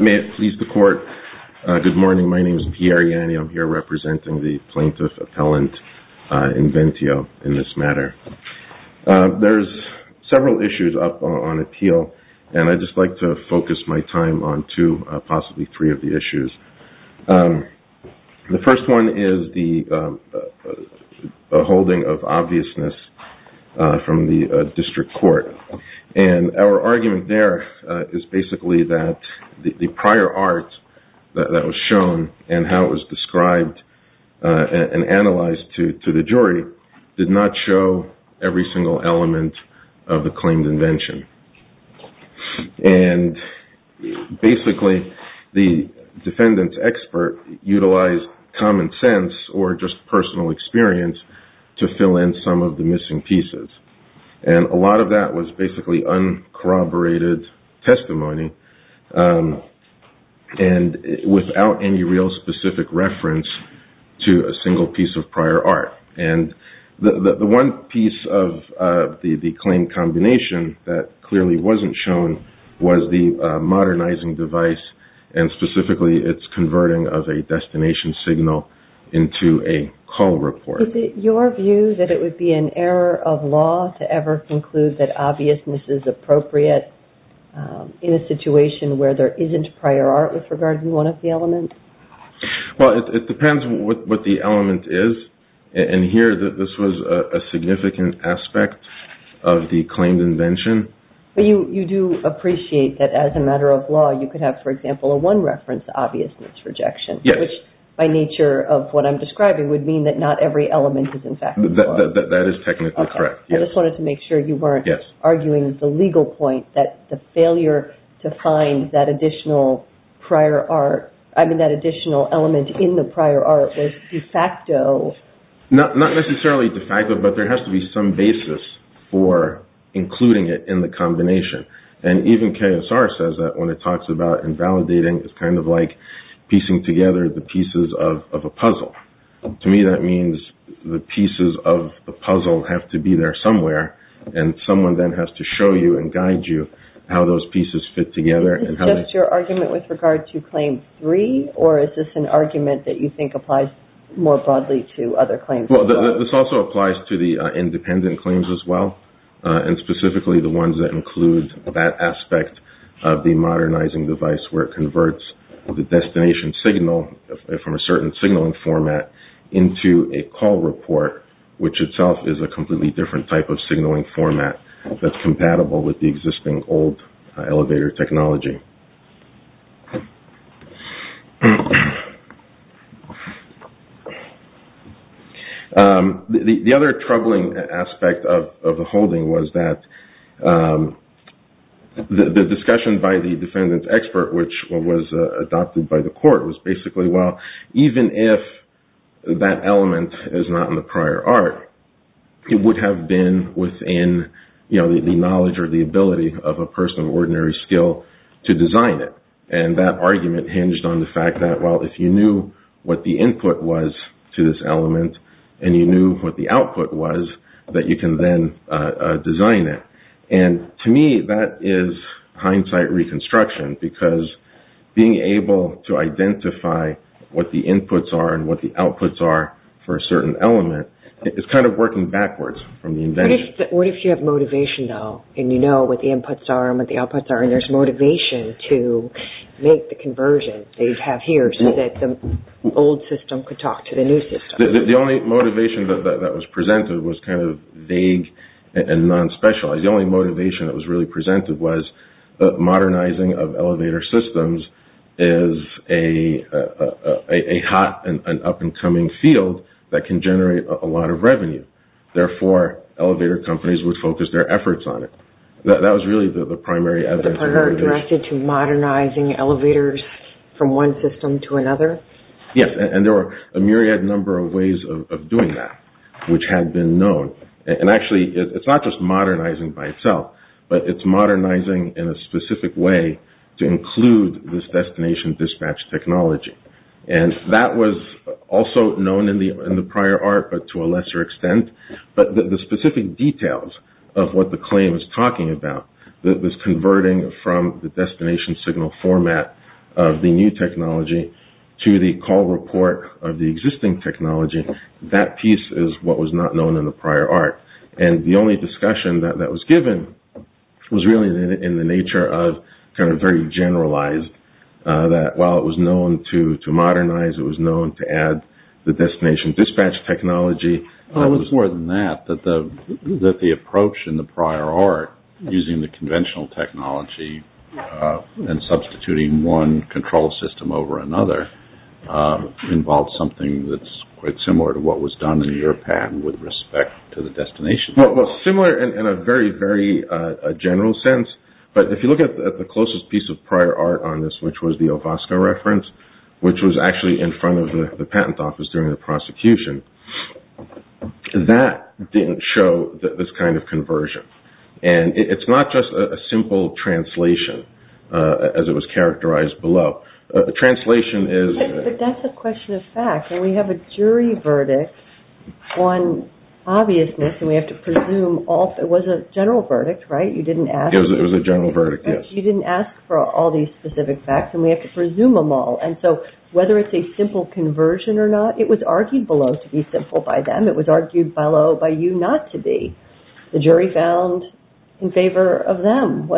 May it please the court, good morning my name is Pierre Ianni, I'm here representing the plaintiff appellant Inventio in this matter. There's several issues up on appeal and I'd just like to focus my attention to the issues. The first one is the holding of obviousness from the district court and our argument there is basically that the prior art that was shown and how it was described and analyzed to the jury did not show every single element of the claimed invention and basically the defendant's expert utilized common sense or just personal experience to fill in some of the missing pieces and a lot of that was basically uncorroborated testimony and without any real specific reference to a The one piece of the claimed combination that clearly wasn't shown was the modernizing device and specifically its converting of a destination signal into a call report. Is it your view that it would be an error of law to ever conclude that obviousness is appropriate in a situation where there isn't prior art with regard to one of the elements? Well it depends what the element is and here this was a significant aspect of the claimed invention. But you do appreciate that as a matter of law you could have for example a one reference obviousness rejection which by nature of what I'm describing would mean that not every element is in fact. That is technically correct. I just wanted to make sure you weren't arguing the legal point that the failure to find that additional prior art I mean that additional element in the prior art was de facto. Not necessarily de facto but there has to be some basis for including it in the combination and even KSR says that when it talks about invalidating it's kind of like piecing together the pieces of a puzzle. To me that means the pieces of the puzzle have to be there somewhere and someone then has to show you and guide you how those pieces fit together. Is this just your argument with regard to claim three or is this an argument that you think applies more broadly to other claims? This also applies to the independent claims as well and specifically the ones that include that aspect of the modernizing device where it converts the destination signal from a certain signaling format into a call report which itself is a completely different type of signaling format that's compatible with the existing old elevator technology. The other troubling aspect of the holding was that the discussion by the defendant's expert which was adopted by the court was basically well even if that element is not in the prior art it would have been within the knowledge or the ability of a person of ordinary skill to design it and that argument hinged on the fact that well if you knew what the input was to this element and you knew what the output was that you can then design it. To me that is hindsight reconstruction because being able to identify what the inputs are and what the outputs are for a certain element is kind of working backwards from the invention. What if you have motivation though and you know what the inputs are and what the outputs are and there's motivation to make the conversion they have here so that the old system could talk to the new system? The only motivation that was presented was kind of vague and non-special. The only motivation that was really presented was modernizing of elevator systems is a hot and up and coming field that can generate a lot of revenue. Therefore elevator companies would focus their efforts on it. That was really the primary adventure. Are you talking about modernizing elevators from one system to another? Yes and there were a myriad number of ways of doing that which had been known and actually it's not just modernizing by itself but it's modernizing in a specific way to include this destination dispatch technology. That was also known in the prior art but to a lesser extent but the specific details of what the claim is talking about that was converting from the destination signal format of the new technology to the call report of the existing technology. That piece is what was not known in the prior art and the only discussion that was given was really in the nature of kind of very generalized that while it was known to modernize it was known to add the destination dispatch technology. It was more than that. That the approach in the prior art using the conventional technology and substituting one control system over another involved something that's quite similar to what was done in your patent with respect to the destination. Well similar in a very very general sense but if you look at the closest piece of prior art on this which was the OVASCO reference which was actually in front of the patent office during the prosecution. That didn't show this kind of conversion and it's not just a simple translation as it was characterized below. Translation is... But that's a question of fact and we have a jury verdict on obviousness and we have to presume all...it was a general verdict right? You didn't ask... It was a general verdict yes. You didn't ask for all these specific facts and we have to presume them all and so whether it's a simple conversion or not it was argued below to be simple by them. It was argued below by you not to be. The jury found in favor of them.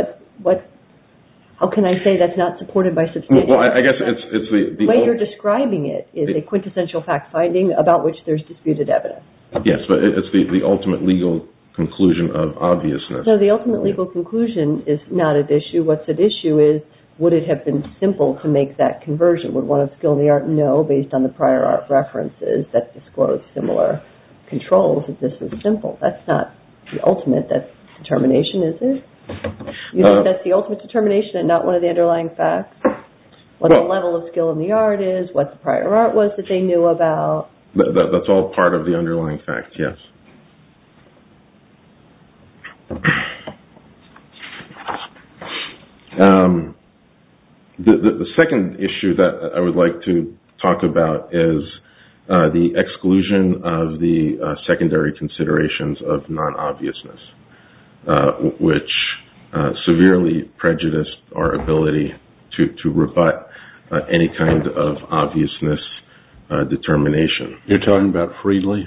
How can I say that's not supported by... Well I guess it's... The way you're describing it is a quintessential fact finding about which there's disputed evidence. Yes but it's the ultimate legal conclusion of obviousness. So the ultimate legal conclusion is not at issue. What's at issue is would it have been simple to make that conversion? Would one of skill in the art know based on the prior art references that disclosed similar controls that this was simple? That's not the ultimate determination is it? You think that's the ultimate determination and not one of the underlying facts? What the level of skill in the art is? What the prior art was that they knew about? That's all part of the underlying facts yes. The second issue that I would like to talk about is the exclusion of the secondary considerations of non-obviousness which severely prejudiced our ability to rebut any kind of obviousness determination. You're talking about Freedly?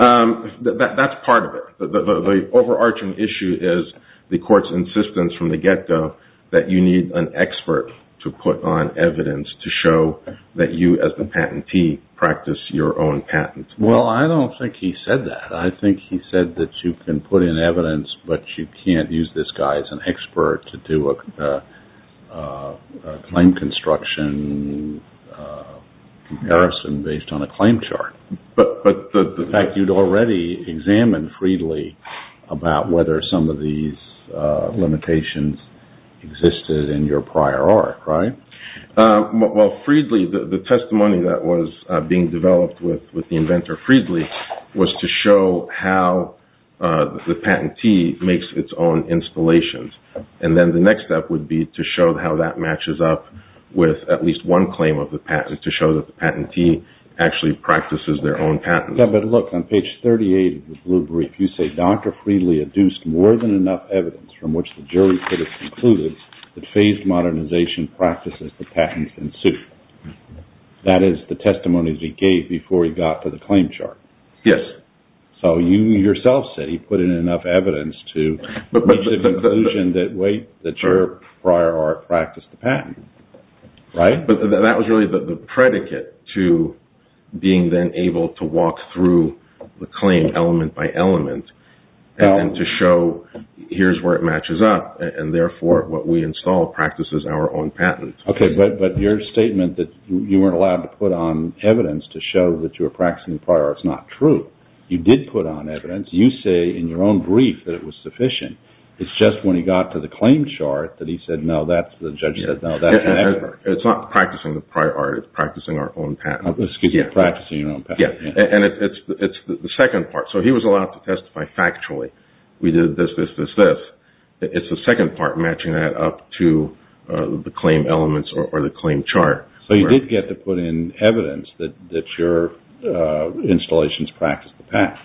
That's part of it. The overarching issue is the court's insistence from the get-go that you need an expert to put on evidence to show that you as the patentee practice your own patents. Well I don't think he said that. I think he said that you can put in evidence but you can't use this guy as an expert to do a claim construction comparison based on a claim chart. But the fact you'd already examined Freedly about whether some of these limitations existed in your prior art right? Well Freedly the testimony that was being developed with the inventor Freedly was to show how the patentee makes its own installations. And then the next step would be to show how that matches up with at least one claim of the patent to show that the patentee actually practices their own patents. Yeah but look on page 38 of the blue brief you say Dr. Freedly adduced more than enough evidence from which the jury could have concluded that phased modernization practices the patents in suit. That is the testimony that he gave before he got to the claim chart. Yes. So you yourself said he put in enough evidence to make the conclusion that your prior art practiced the patent. But that was really the predicate to being then able to walk through the claim element by element and then to show here's where it matches up and therefore what we install practices our own patents. Okay but your statement that you weren't allowed to put on evidence to show that you were practicing prior it's not true. You did put on evidence you say in your own brief that it was sufficient. It's just when he got to the claim chart that he said no that's the judge said no. It's not practicing the prior art it's practicing our own patent. It's the second part. So he was allowed to testify factually. We did this this this this. It's the second part matching that up to the claim elements or the claim chart. So you did get to put in evidence that that your installations practice the path.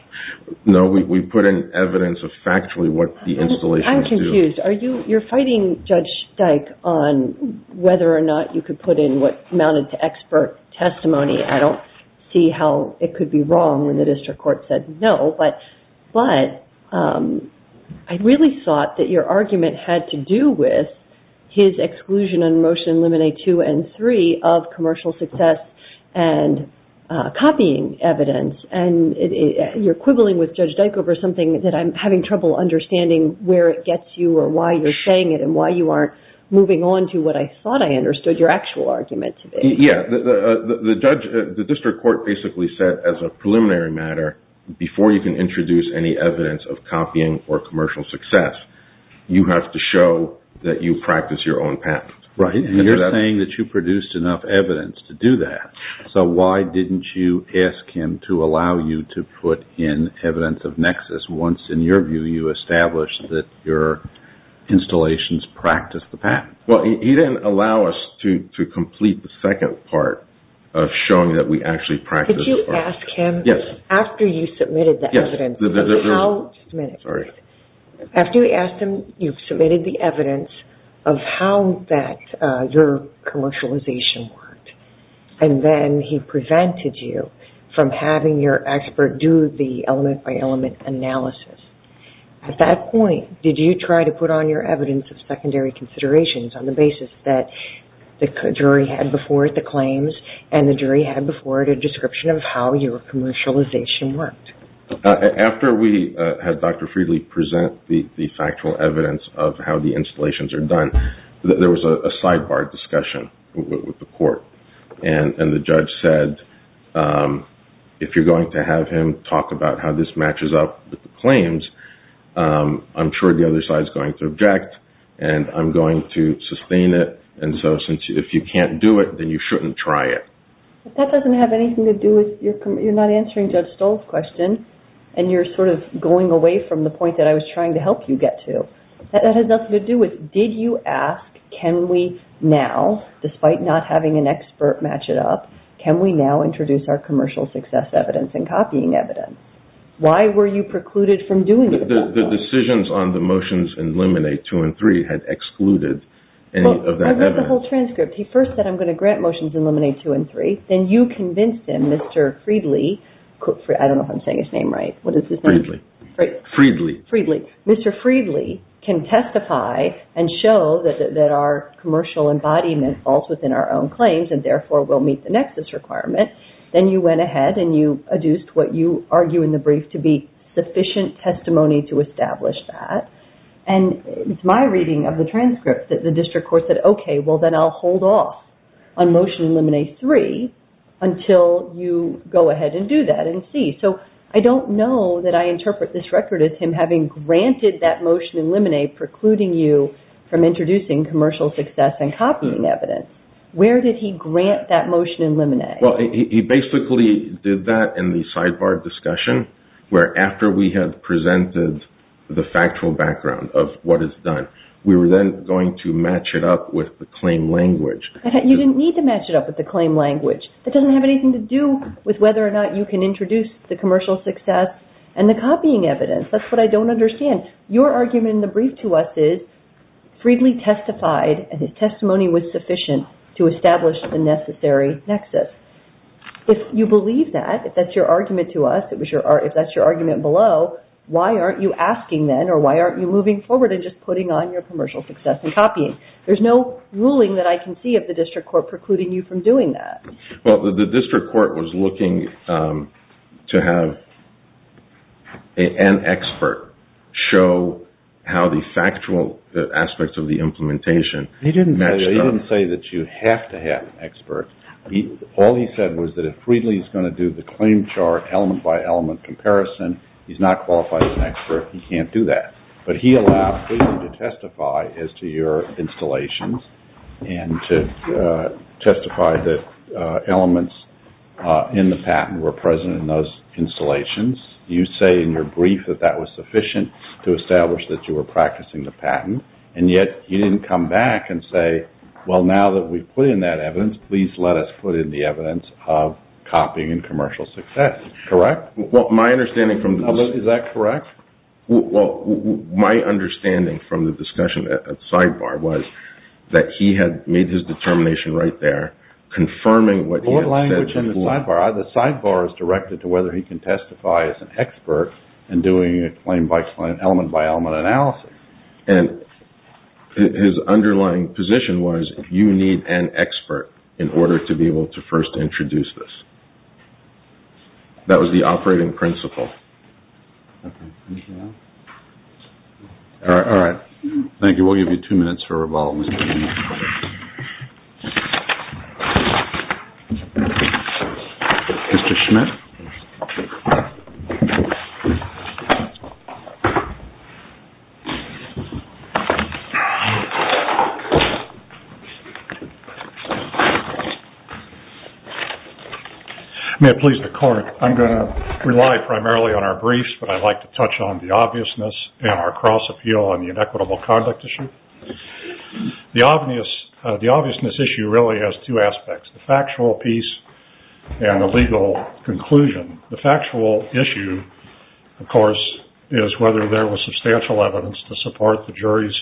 No we put in evidence of factually what the installation. I'm confused. Are you you're fighting Judge Dyke on whether or not you could put in what amounted to expert testimony. I don't see how it could be wrong when the district court said no. But I really thought that your argument had to do with his exclusion and motion eliminate two and three of commercial success and copying evidence. And you're quibbling with Judge Dyke over something that I'm having trouble understanding where it gets you or why you're saying it and why you aren't moving on to what I thought I understood your actual argument. Yeah the judge the district court basically said as a preliminary matter before you can introduce any evidence of copying or commercial success. You have to show that you practice your own path. Right. And you're saying that you produced enough evidence to do that. So why didn't you ask him to allow you to put in evidence of nexus once in your view you established that your installations practice the path. Well he didn't allow us to complete the second part of showing that we actually practice. Did you ask him. Yes. After you submitted the evidence. Sorry. After you asked him you submitted the evidence of how that your commercialization worked. And then he prevented you from having your expert do the element by element analysis. At that point did you try to put on your evidence of secondary considerations on the basis that the jury had before it the claims and the jury had before it a description of how your commercialization worked. After we had Dr. Freedly present the factual evidence of how the installations are done there was a sidebar discussion with the court and the judge said if you're going to have him talk about how this matches up with the claims I'm sure the other side is going to object and I'm going to sustain it. And so since if you can't do it then you shouldn't try it. But that doesn't have anything to do with you're not answering Judge Stoll's question and you're sort of going away from the point that I was trying to help you get to. That has nothing to do with did you ask can we now despite not having an expert match it up can we now introduce our commercial success evidence and copying evidence. Why were you precluded from doing it? The decisions on the motions in Luminate 2 and 3 had excluded any of that evidence. I read the whole transcript. He first said I'm going to grant motions in Luminate 2 and 3. Then you convinced him Mr. Freedly. I don't know if I'm saying his name right. What is his name? Freedly. Freedly. Mr. Freedly can testify and show that our commercial embodiment falls within our own requirement. Then you went ahead and you adduced what you argue in the brief to be sufficient testimony to establish that. And it's my reading of the transcript that the district court said okay well then I'll hold off on motion in Luminate 3 until you go ahead and do that and see. So I don't know that I interpret this record as him having granted that motion in Luminate precluding you from introducing commercial success and copying evidence. Where did he grant that motion in Luminate? Well he basically did that in the sidebar discussion where after we had presented the factual background of what is done we were then going to match it up with the claim language. You didn't need to match it up with the claim language. It doesn't have anything to do with whether or not you can introduce the commercial success and the copying evidence. That's what I don't understand. Your argument in the brief to us is Freedly testified and his testimony was sufficient to establish the necessary nexus. If you believe that, if that's your argument to us, if that's your argument below, why aren't you asking then or why aren't you moving forward and just putting on your commercial success and copying? There's no ruling that I can see of the district court precluding you from doing that. Well the district court was looking to have an expert show how the factual aspects of the implementation matched up. He didn't say that you have to have an expert. All he said was that if Freedly is going to do the claim chart element by element comparison he's not qualified as an expert. He can't do that. But he allowed Freedly to testify as to your installations and to testify that elements in the patent were present in those installations. You say in your brief that that was sufficient to establish that you were practicing the patent and yet you didn't come back and say, well now that we've put in that evidence, please let us put in the evidence of copying and commercial success. Correct? My understanding from the public, is that correct? Well, my understanding from the discussion at Sidebar was that he had made his determination right there, confirming what he had said. Court language in the Sidebar, the Sidebar is directed to whether he can testify as an expert in doing a claim by claim element by element analysis. His underlying position was you need an expert in order to be able to first introduce this. That was the operating principle. All right, all right. Thank you. We'll give you two minutes for rebuttal. Mr. Schmidt. May it please the court. I'm going to rely primarily on our briefs, but I'd like to touch on the obviousness and our cross appeal on the inequitable conduct issue. The obviousness issue really has two aspects, the factual piece and the legal conclusion. The factual issue, of course, is whether there was substantial evidence to support the jury's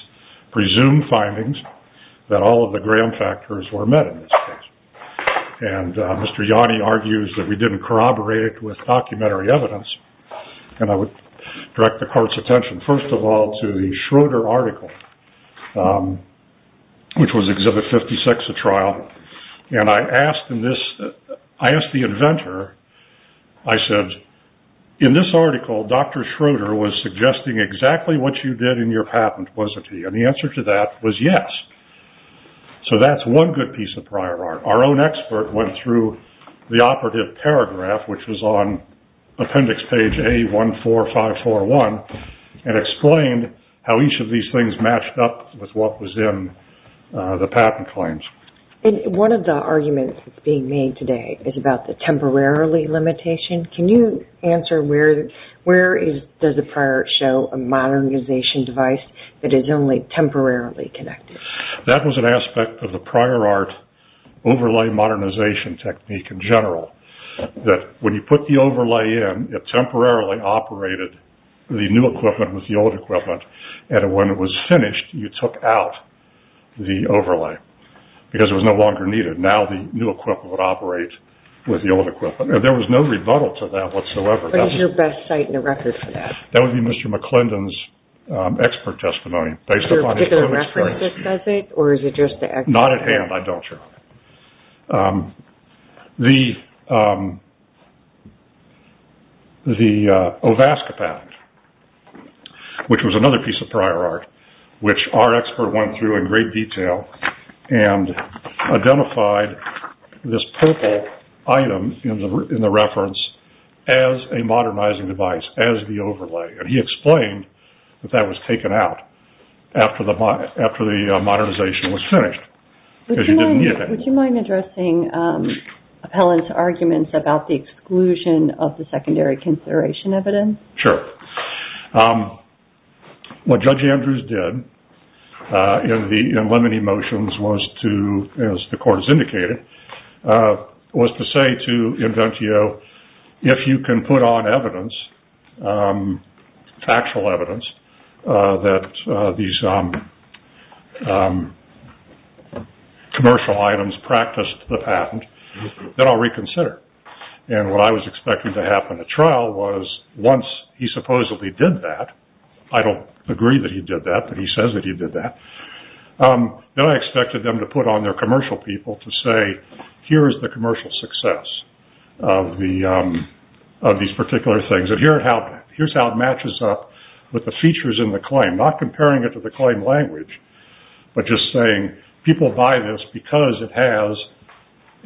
presumed findings that all of the gram factors were met in this case. Mr. Yanni argues that we didn't corroborate with documentary evidence. I would direct the court's attention, first of all, to the Schroeder article, which was Exhibit 56, the trial. I asked the inventor, I said, in this article, Dr. Schroeder was suggesting exactly what you did in your patent, wasn't he? The answer to that was yes. That's one good piece of prior art. Our own expert went through the operative paragraph, which was on appendix page A14541, and explained how each of these things matched up with what was in the patent claims. One of the arguments being made today is about the temporarily limitation. Can you answer where does the prior art show a modernization device that is only temporarily connected? That was an aspect of the prior art overlay modernization technique in general, that when you put the overlay in, it temporarily operated the new equipment with the old equipment, and when it was finished, you took out the overlay because it was no longer needed. Now the new equipment would operate with the old equipment. There was no rebuttal to that whatsoever. What is your best site and a record for that? That would be Mr. McClendon's expert testimony. Is there a particular reference that says it, or is it just the expert? Not at hand, I'm not sure. The OVASCA patent, which was another piece of prior art, which our expert went through in great detail and identified this purple item in the reference as a modernizing device, as the overlay. He explained that that was taken out after the modernization was finished, because you didn't need it. Would you mind addressing Appellant's arguments about the exclusion of the secondary consideration evidence? Sure. What Judge Andrews did in limiting motions, as the court has indicated, was to say to factual evidence that these commercial items practiced the patent, then I'll reconsider. What I was expecting to happen at trial was once he supposedly did that, I don't agree that he did that, but he says that he did that, then I expected them to put on their commercial people to say, here's the commercial success of these particular things. Here's how it matches up with the features in the claim, not comparing it to the claim language, but just saying people buy this because it has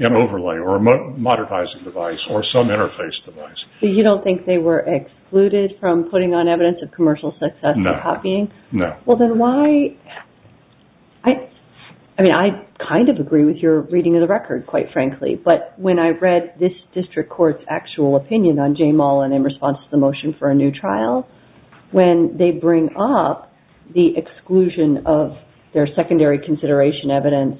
an overlay, or a modernizing device, or some interface device. You don't think they were excluded from putting on evidence of commercial success and copying? No. Well, then why? I kind of agree with your reading of the record, quite frankly, but when I read this motion for a new trial, when they bring up the exclusion of their secondary consideration evidence,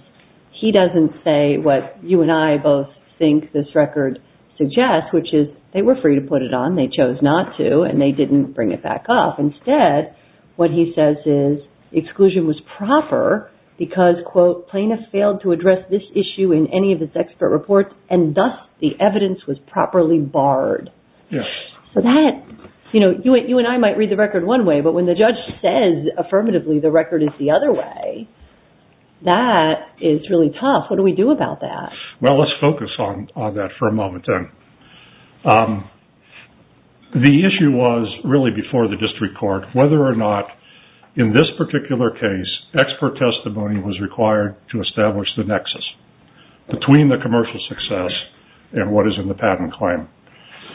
he doesn't say what you and I both think this record suggests, which is they were free to put it on, they chose not to, and they didn't bring it back up. Instead, what he says is exclusion was proper because, quote, plaintiff failed to address this issue in any of his expert reports, and thus the evidence was properly barred. So that, you know, you and I might read the record one way, but when the judge says affirmatively the record is the other way, that is really tough. What do we do about that? Well, let's focus on that for a moment, then. The issue was really before the district court whether or not, in this particular case, expert testimony was required to establish the nexus between the commercial success and what is in the patent claim.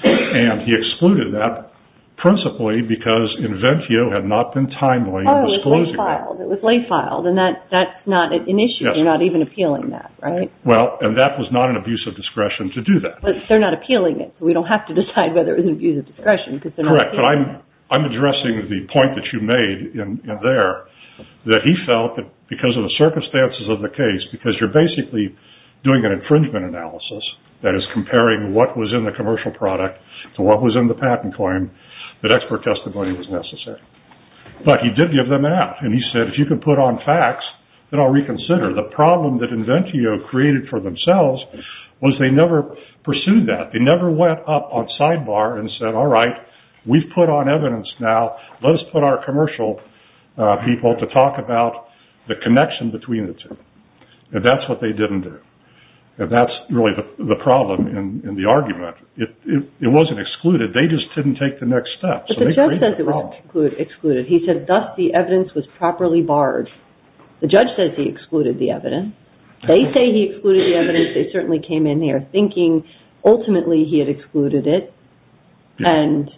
And he excluded that principally because inventio had not been timely in disclosing Oh, it was lay-filed. It was lay-filed, and that's not an issue. You're not even appealing that, right? Well, and that was not an abuse of discretion to do that. But they're not appealing it, so we don't have to decide whether it was an abuse of discretion because they're not appealing it. Correct, but I'm addressing the point that you made in there, that he felt that because of the circumstances of the case, because you're basically doing an infringement analysis, that is comparing what was in the commercial product to what was in the patent claim, that expert testimony was necessary. But he did give them that. And he said, if you can put on facts, then I'll reconsider. The problem that inventio created for themselves was they never pursued that. They never went up on sidebar and said, all right, we've put on evidence now. Let us put our commercial people to talk about the connection between the two. And that's what they didn't do. And that's really the problem in the argument. It wasn't excluded. They just didn't take the next step. But the judge says it wasn't excluded. He said, thus, the evidence was properly barred. The judge says he excluded the evidence. They say he excluded the evidence. They certainly came in here thinking, ultimately, he had excluded it. And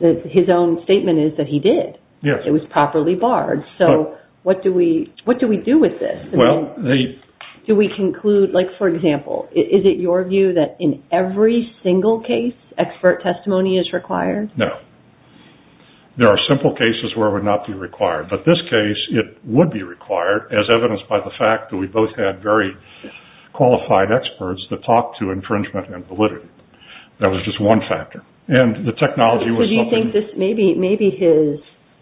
his own statement is that he did. It was properly barred. So what do we do with this? Well, do we conclude, like, for example, is it your view that in every single case, expert testimony is required? No. There are simple cases where it would not be required. But this case, it would be required, as evidenced by the fact that we both had very qualified experts that talked to infringement and validity. That was just one factor. And the technology was something... So do you think this, maybe his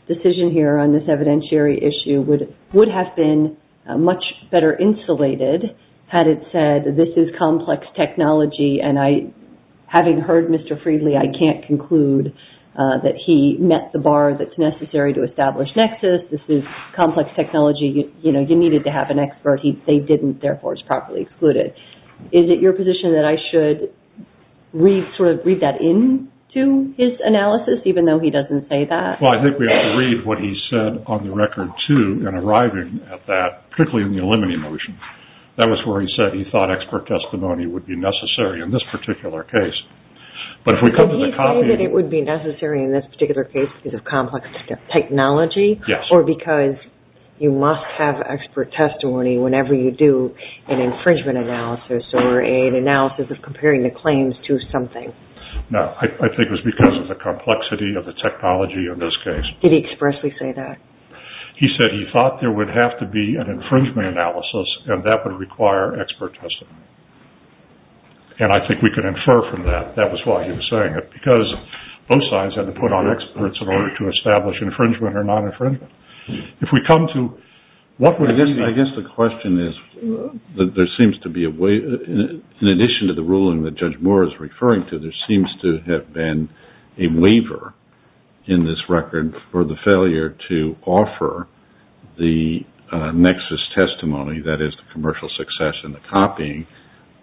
decision here on this evidentiary issue would have been much better insulated had it said, this is complex technology. And I, having heard Mr. Friedley, I can't conclude that he met the bar that's necessary to establish nexus. This is complex technology. You know, you needed to have an expert. They didn't. Therefore, it's properly excluded. Is it your position that I should read that in to his analysis, even though he doesn't say that? Well, I think we ought to read what he said on the record, too, in arriving at that, particularly in the eliminating motion. That was where he said he thought expert testimony would be necessary in this particular case. But if we come to the... Did he say that it would be necessary in this particular case because of complex technology? Yes. Or because you must have expert testimony whenever you do an infringement analysis or an analysis of comparing the claims to something? No, I think it was because of the complexity of the technology in this case. Did he expressly say that? He said he thought there would have to be an infringement analysis, and that would require expert testimony. And I think we could infer from that. That was why he was saying it, because both sides had to put on experts in order to establish infringement or non-infringement. If we come to... I guess the question is, there seems to be a way, in addition to the ruling that Judge seems to have been a waiver in this record for the failure to offer the nexus testimony, that is, the commercial success and the copying,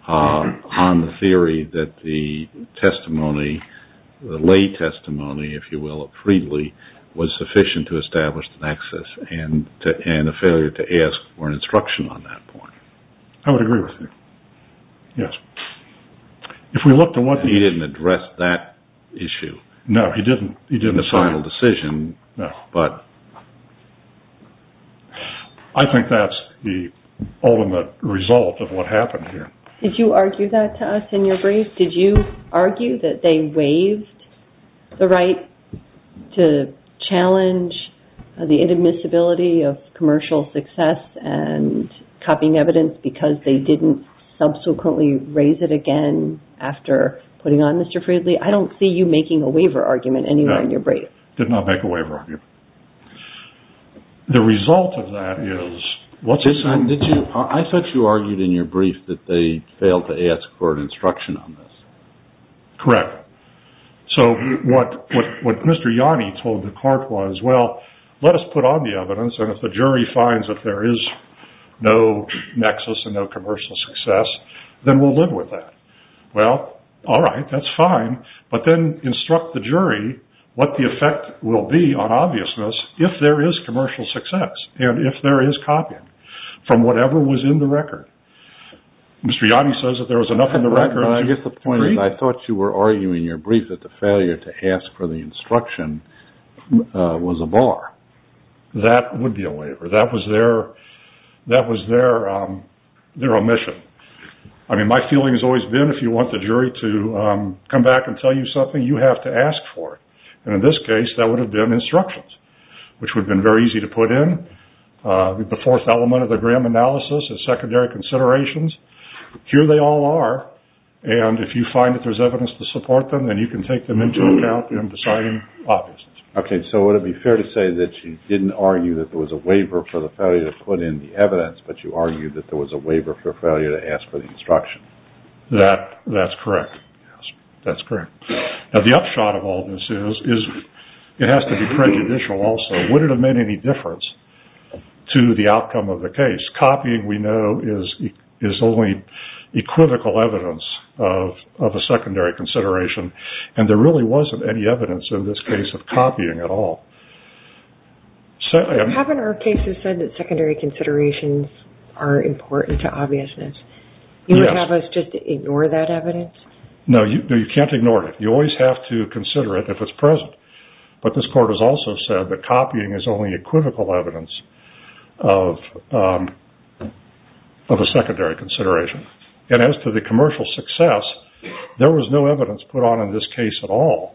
on the theory that the testimony, the lay testimony, if you will, of Friedli was sufficient to establish the nexus and a failure to ask for an instruction on that point. I would agree with you. Yes. If we look to what... He didn't address that issue in the final decision, but... I think that's the ultimate result of what happened here. Did you argue that to us in your brief? Did you argue that they waived the right to challenge the inadmissibility of commercial success and copying evidence because they didn't subsequently raise it again after putting on Mr. Friedli? I don't see you making a waiver argument anywhere in your brief. Did not make a waiver argument. The result of that is... I thought you argued in your brief that they failed to ask for an instruction on this. Correct. So what Mr. Yanni told the court was, well, let us put on the evidence and if the jury finds that there is no nexus and no commercial success, then we'll live with that. Well, all right. That's fine. But then instruct the jury what the effect will be on obviousness if there is commercial success and if there is copying from whatever was in the record. Mr. Yanni says that there was enough in the record... I guess the point is I thought you were arguing in your brief that the failure to ask for the instruction was a bar. That would be a waiver. That was their omission. I mean, my feeling has always been if you want the jury to come back and tell you something, you have to ask for it. And in this case, that would have been instructions, which would have been very easy to put in. The fourth element of the Graham analysis is secondary considerations. Here they all are. And if you find that there's evidence to support them, then you can take them into account in deciding obviousness. Okay. So would it be fair to say that you didn't argue that there was a waiver for the failure to put in the evidence, but you argued that there was a waiver for failure to ask for the instruction? That's correct. That's correct. Now, the upshot of all this is it has to be prejudicial also. Would it have made any difference to the outcome of the case? Copying, we know, is only equivocal evidence of a secondary consideration. And there really wasn't any evidence in this case of copying at all. Haven't our cases said that secondary considerations are important to obviousness? You would have us just ignore that evidence? No, you can't ignore it. You always have to consider it if it's present. But this court has also said that copying is only equivocal evidence of a secondary consideration. And as to the commercial success, there was no evidence put on in this case at all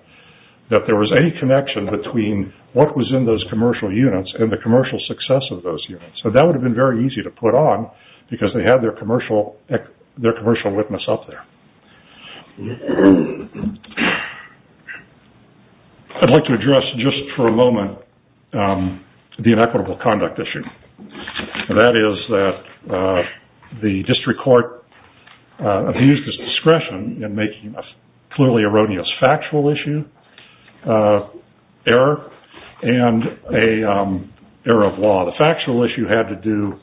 that there was any connection between what was in those commercial units and the commercial success of those units. So that would have been very easy to put on because they had their commercial witness up there. I'd like to address just for a moment the inequitable conduct issue. That is that the district court abused its discretion in making a clearly erroneous factual issue error and an error of law. The factual issue had to do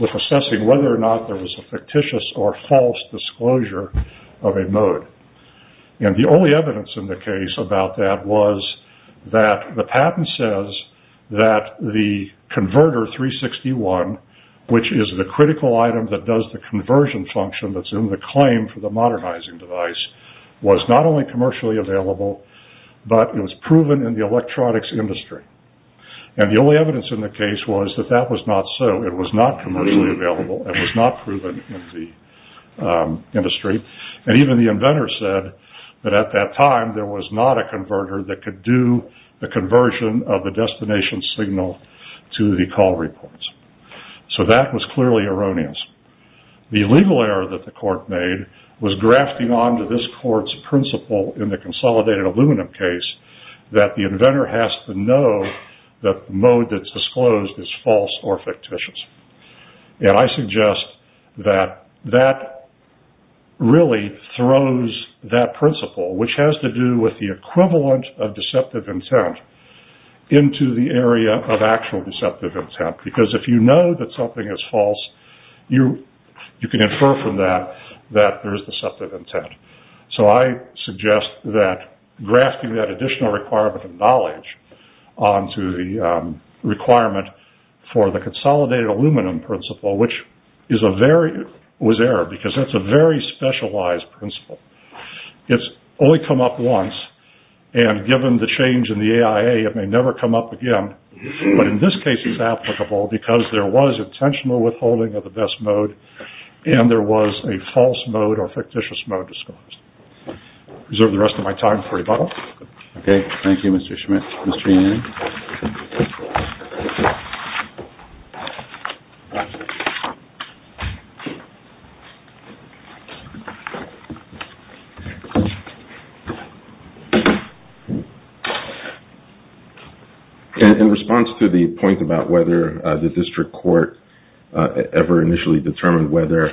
with assessing whether or not there was a fictitious or false disclosure of a mode. And the only evidence in the case about that was that the patent says that the converter 361, which is the critical item that does the conversion function that's in the claim for the modernizing device, was not only commercially available, but it was proven in the electronics industry. And the only evidence in the case was that that was not so. It was not commercially available. It was not proven in the industry. And even the inventor said that at that time, there was not a converter that could do the reports. So that was clearly erroneous. The legal error that the court made was grafting onto this court's principle in the consolidated aluminum case that the inventor has to know that the mode that's disclosed is false or fictitious. And I suggest that that really throws that principle, which has to do with the equivalent of deceptive intent, into the area of actual deceptive intent. Because if you know that something is false, you can infer from that that there is deceptive intent. So I suggest that grafting that additional requirement of knowledge onto the requirement for the consolidated aluminum principle, which was error, because that's a very specialized principle. It's only come up once. And given the change in the AIA, it may never come up again. But in this case, it's applicable because there was intentional withholding of the best mode, and there was a false mode or fictitious mode disclosed. Reserve the rest of my time for rebuttal. OK, thank you, Mr. Schmidt. Mr. Schmidt. In response to the point about whether the district court ever initially determined whether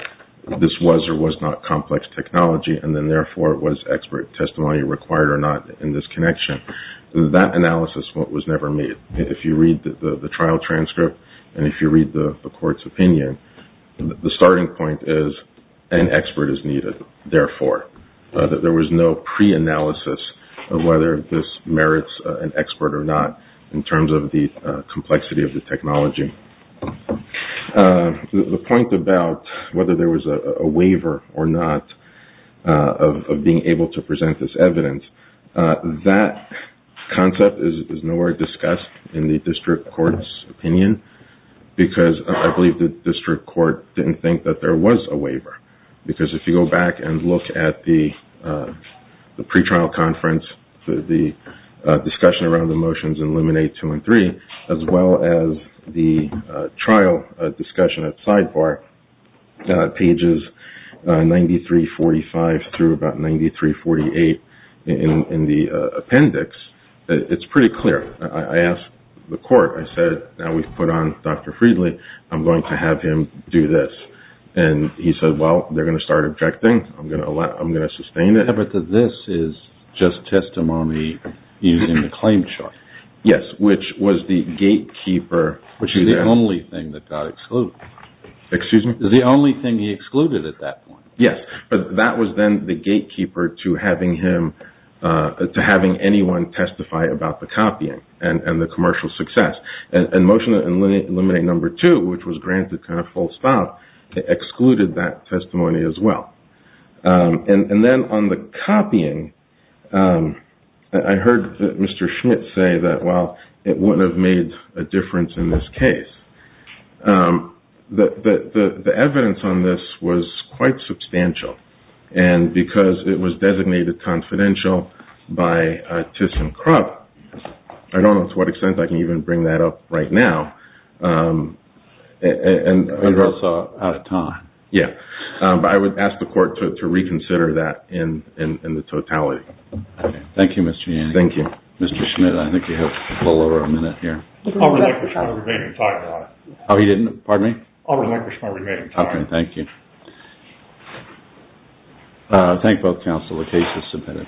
this was or was not complex technology, and then therefore was expert testimony required or not in this connection, that analysis was never made. If you read the trial transcript, and if you read the court's opinion, the starting point is an expert is needed. Therefore, there was no pre-analysis of whether this merits an expert or not in terms of the complexity of the technology. The point about whether there was a waiver or not of being able to present this evidence, that concept is nowhere discussed in the district court's opinion, because I believe the district because if you go back and look at the pre-trial conference, the discussion around the motions in limine 2 and 3, as well as the trial discussion at sidebar pages 9345 through about 9348 in the appendix, it's pretty clear. I asked the court, I said, now we've put on Dr. Friedley, I'm going to have him do this. He said, well, they're going to start objecting, I'm going to sustain it. But this is just testimony using the claim chart. Yes, which was the gatekeeper. Which is the only thing that got excluded. Excuse me? The only thing he excluded at that point. Yes, but that was then the gatekeeper to having anyone testify about the copying and the commercial excluded that testimony as well. And then on the copying, I heard Mr. Schmidt say that, well, it wouldn't have made a difference in this case. The evidence on this was quite substantial, and because it was designated confidential by Tiss and Krupp, I don't know to what extent I can even bring that up right now. And also, out of time. Yes, but I would ask the court to reconsider that in the totality. Thank you, Mr. Yanni. Thank you. Mr. Schmidt, I think you have a little over a minute here. I would like to remain in time, Your Honor. Oh, you didn't? Pardon me? I would like to remain in time. Okay, thank you. Thank both counsel, the case is submitted.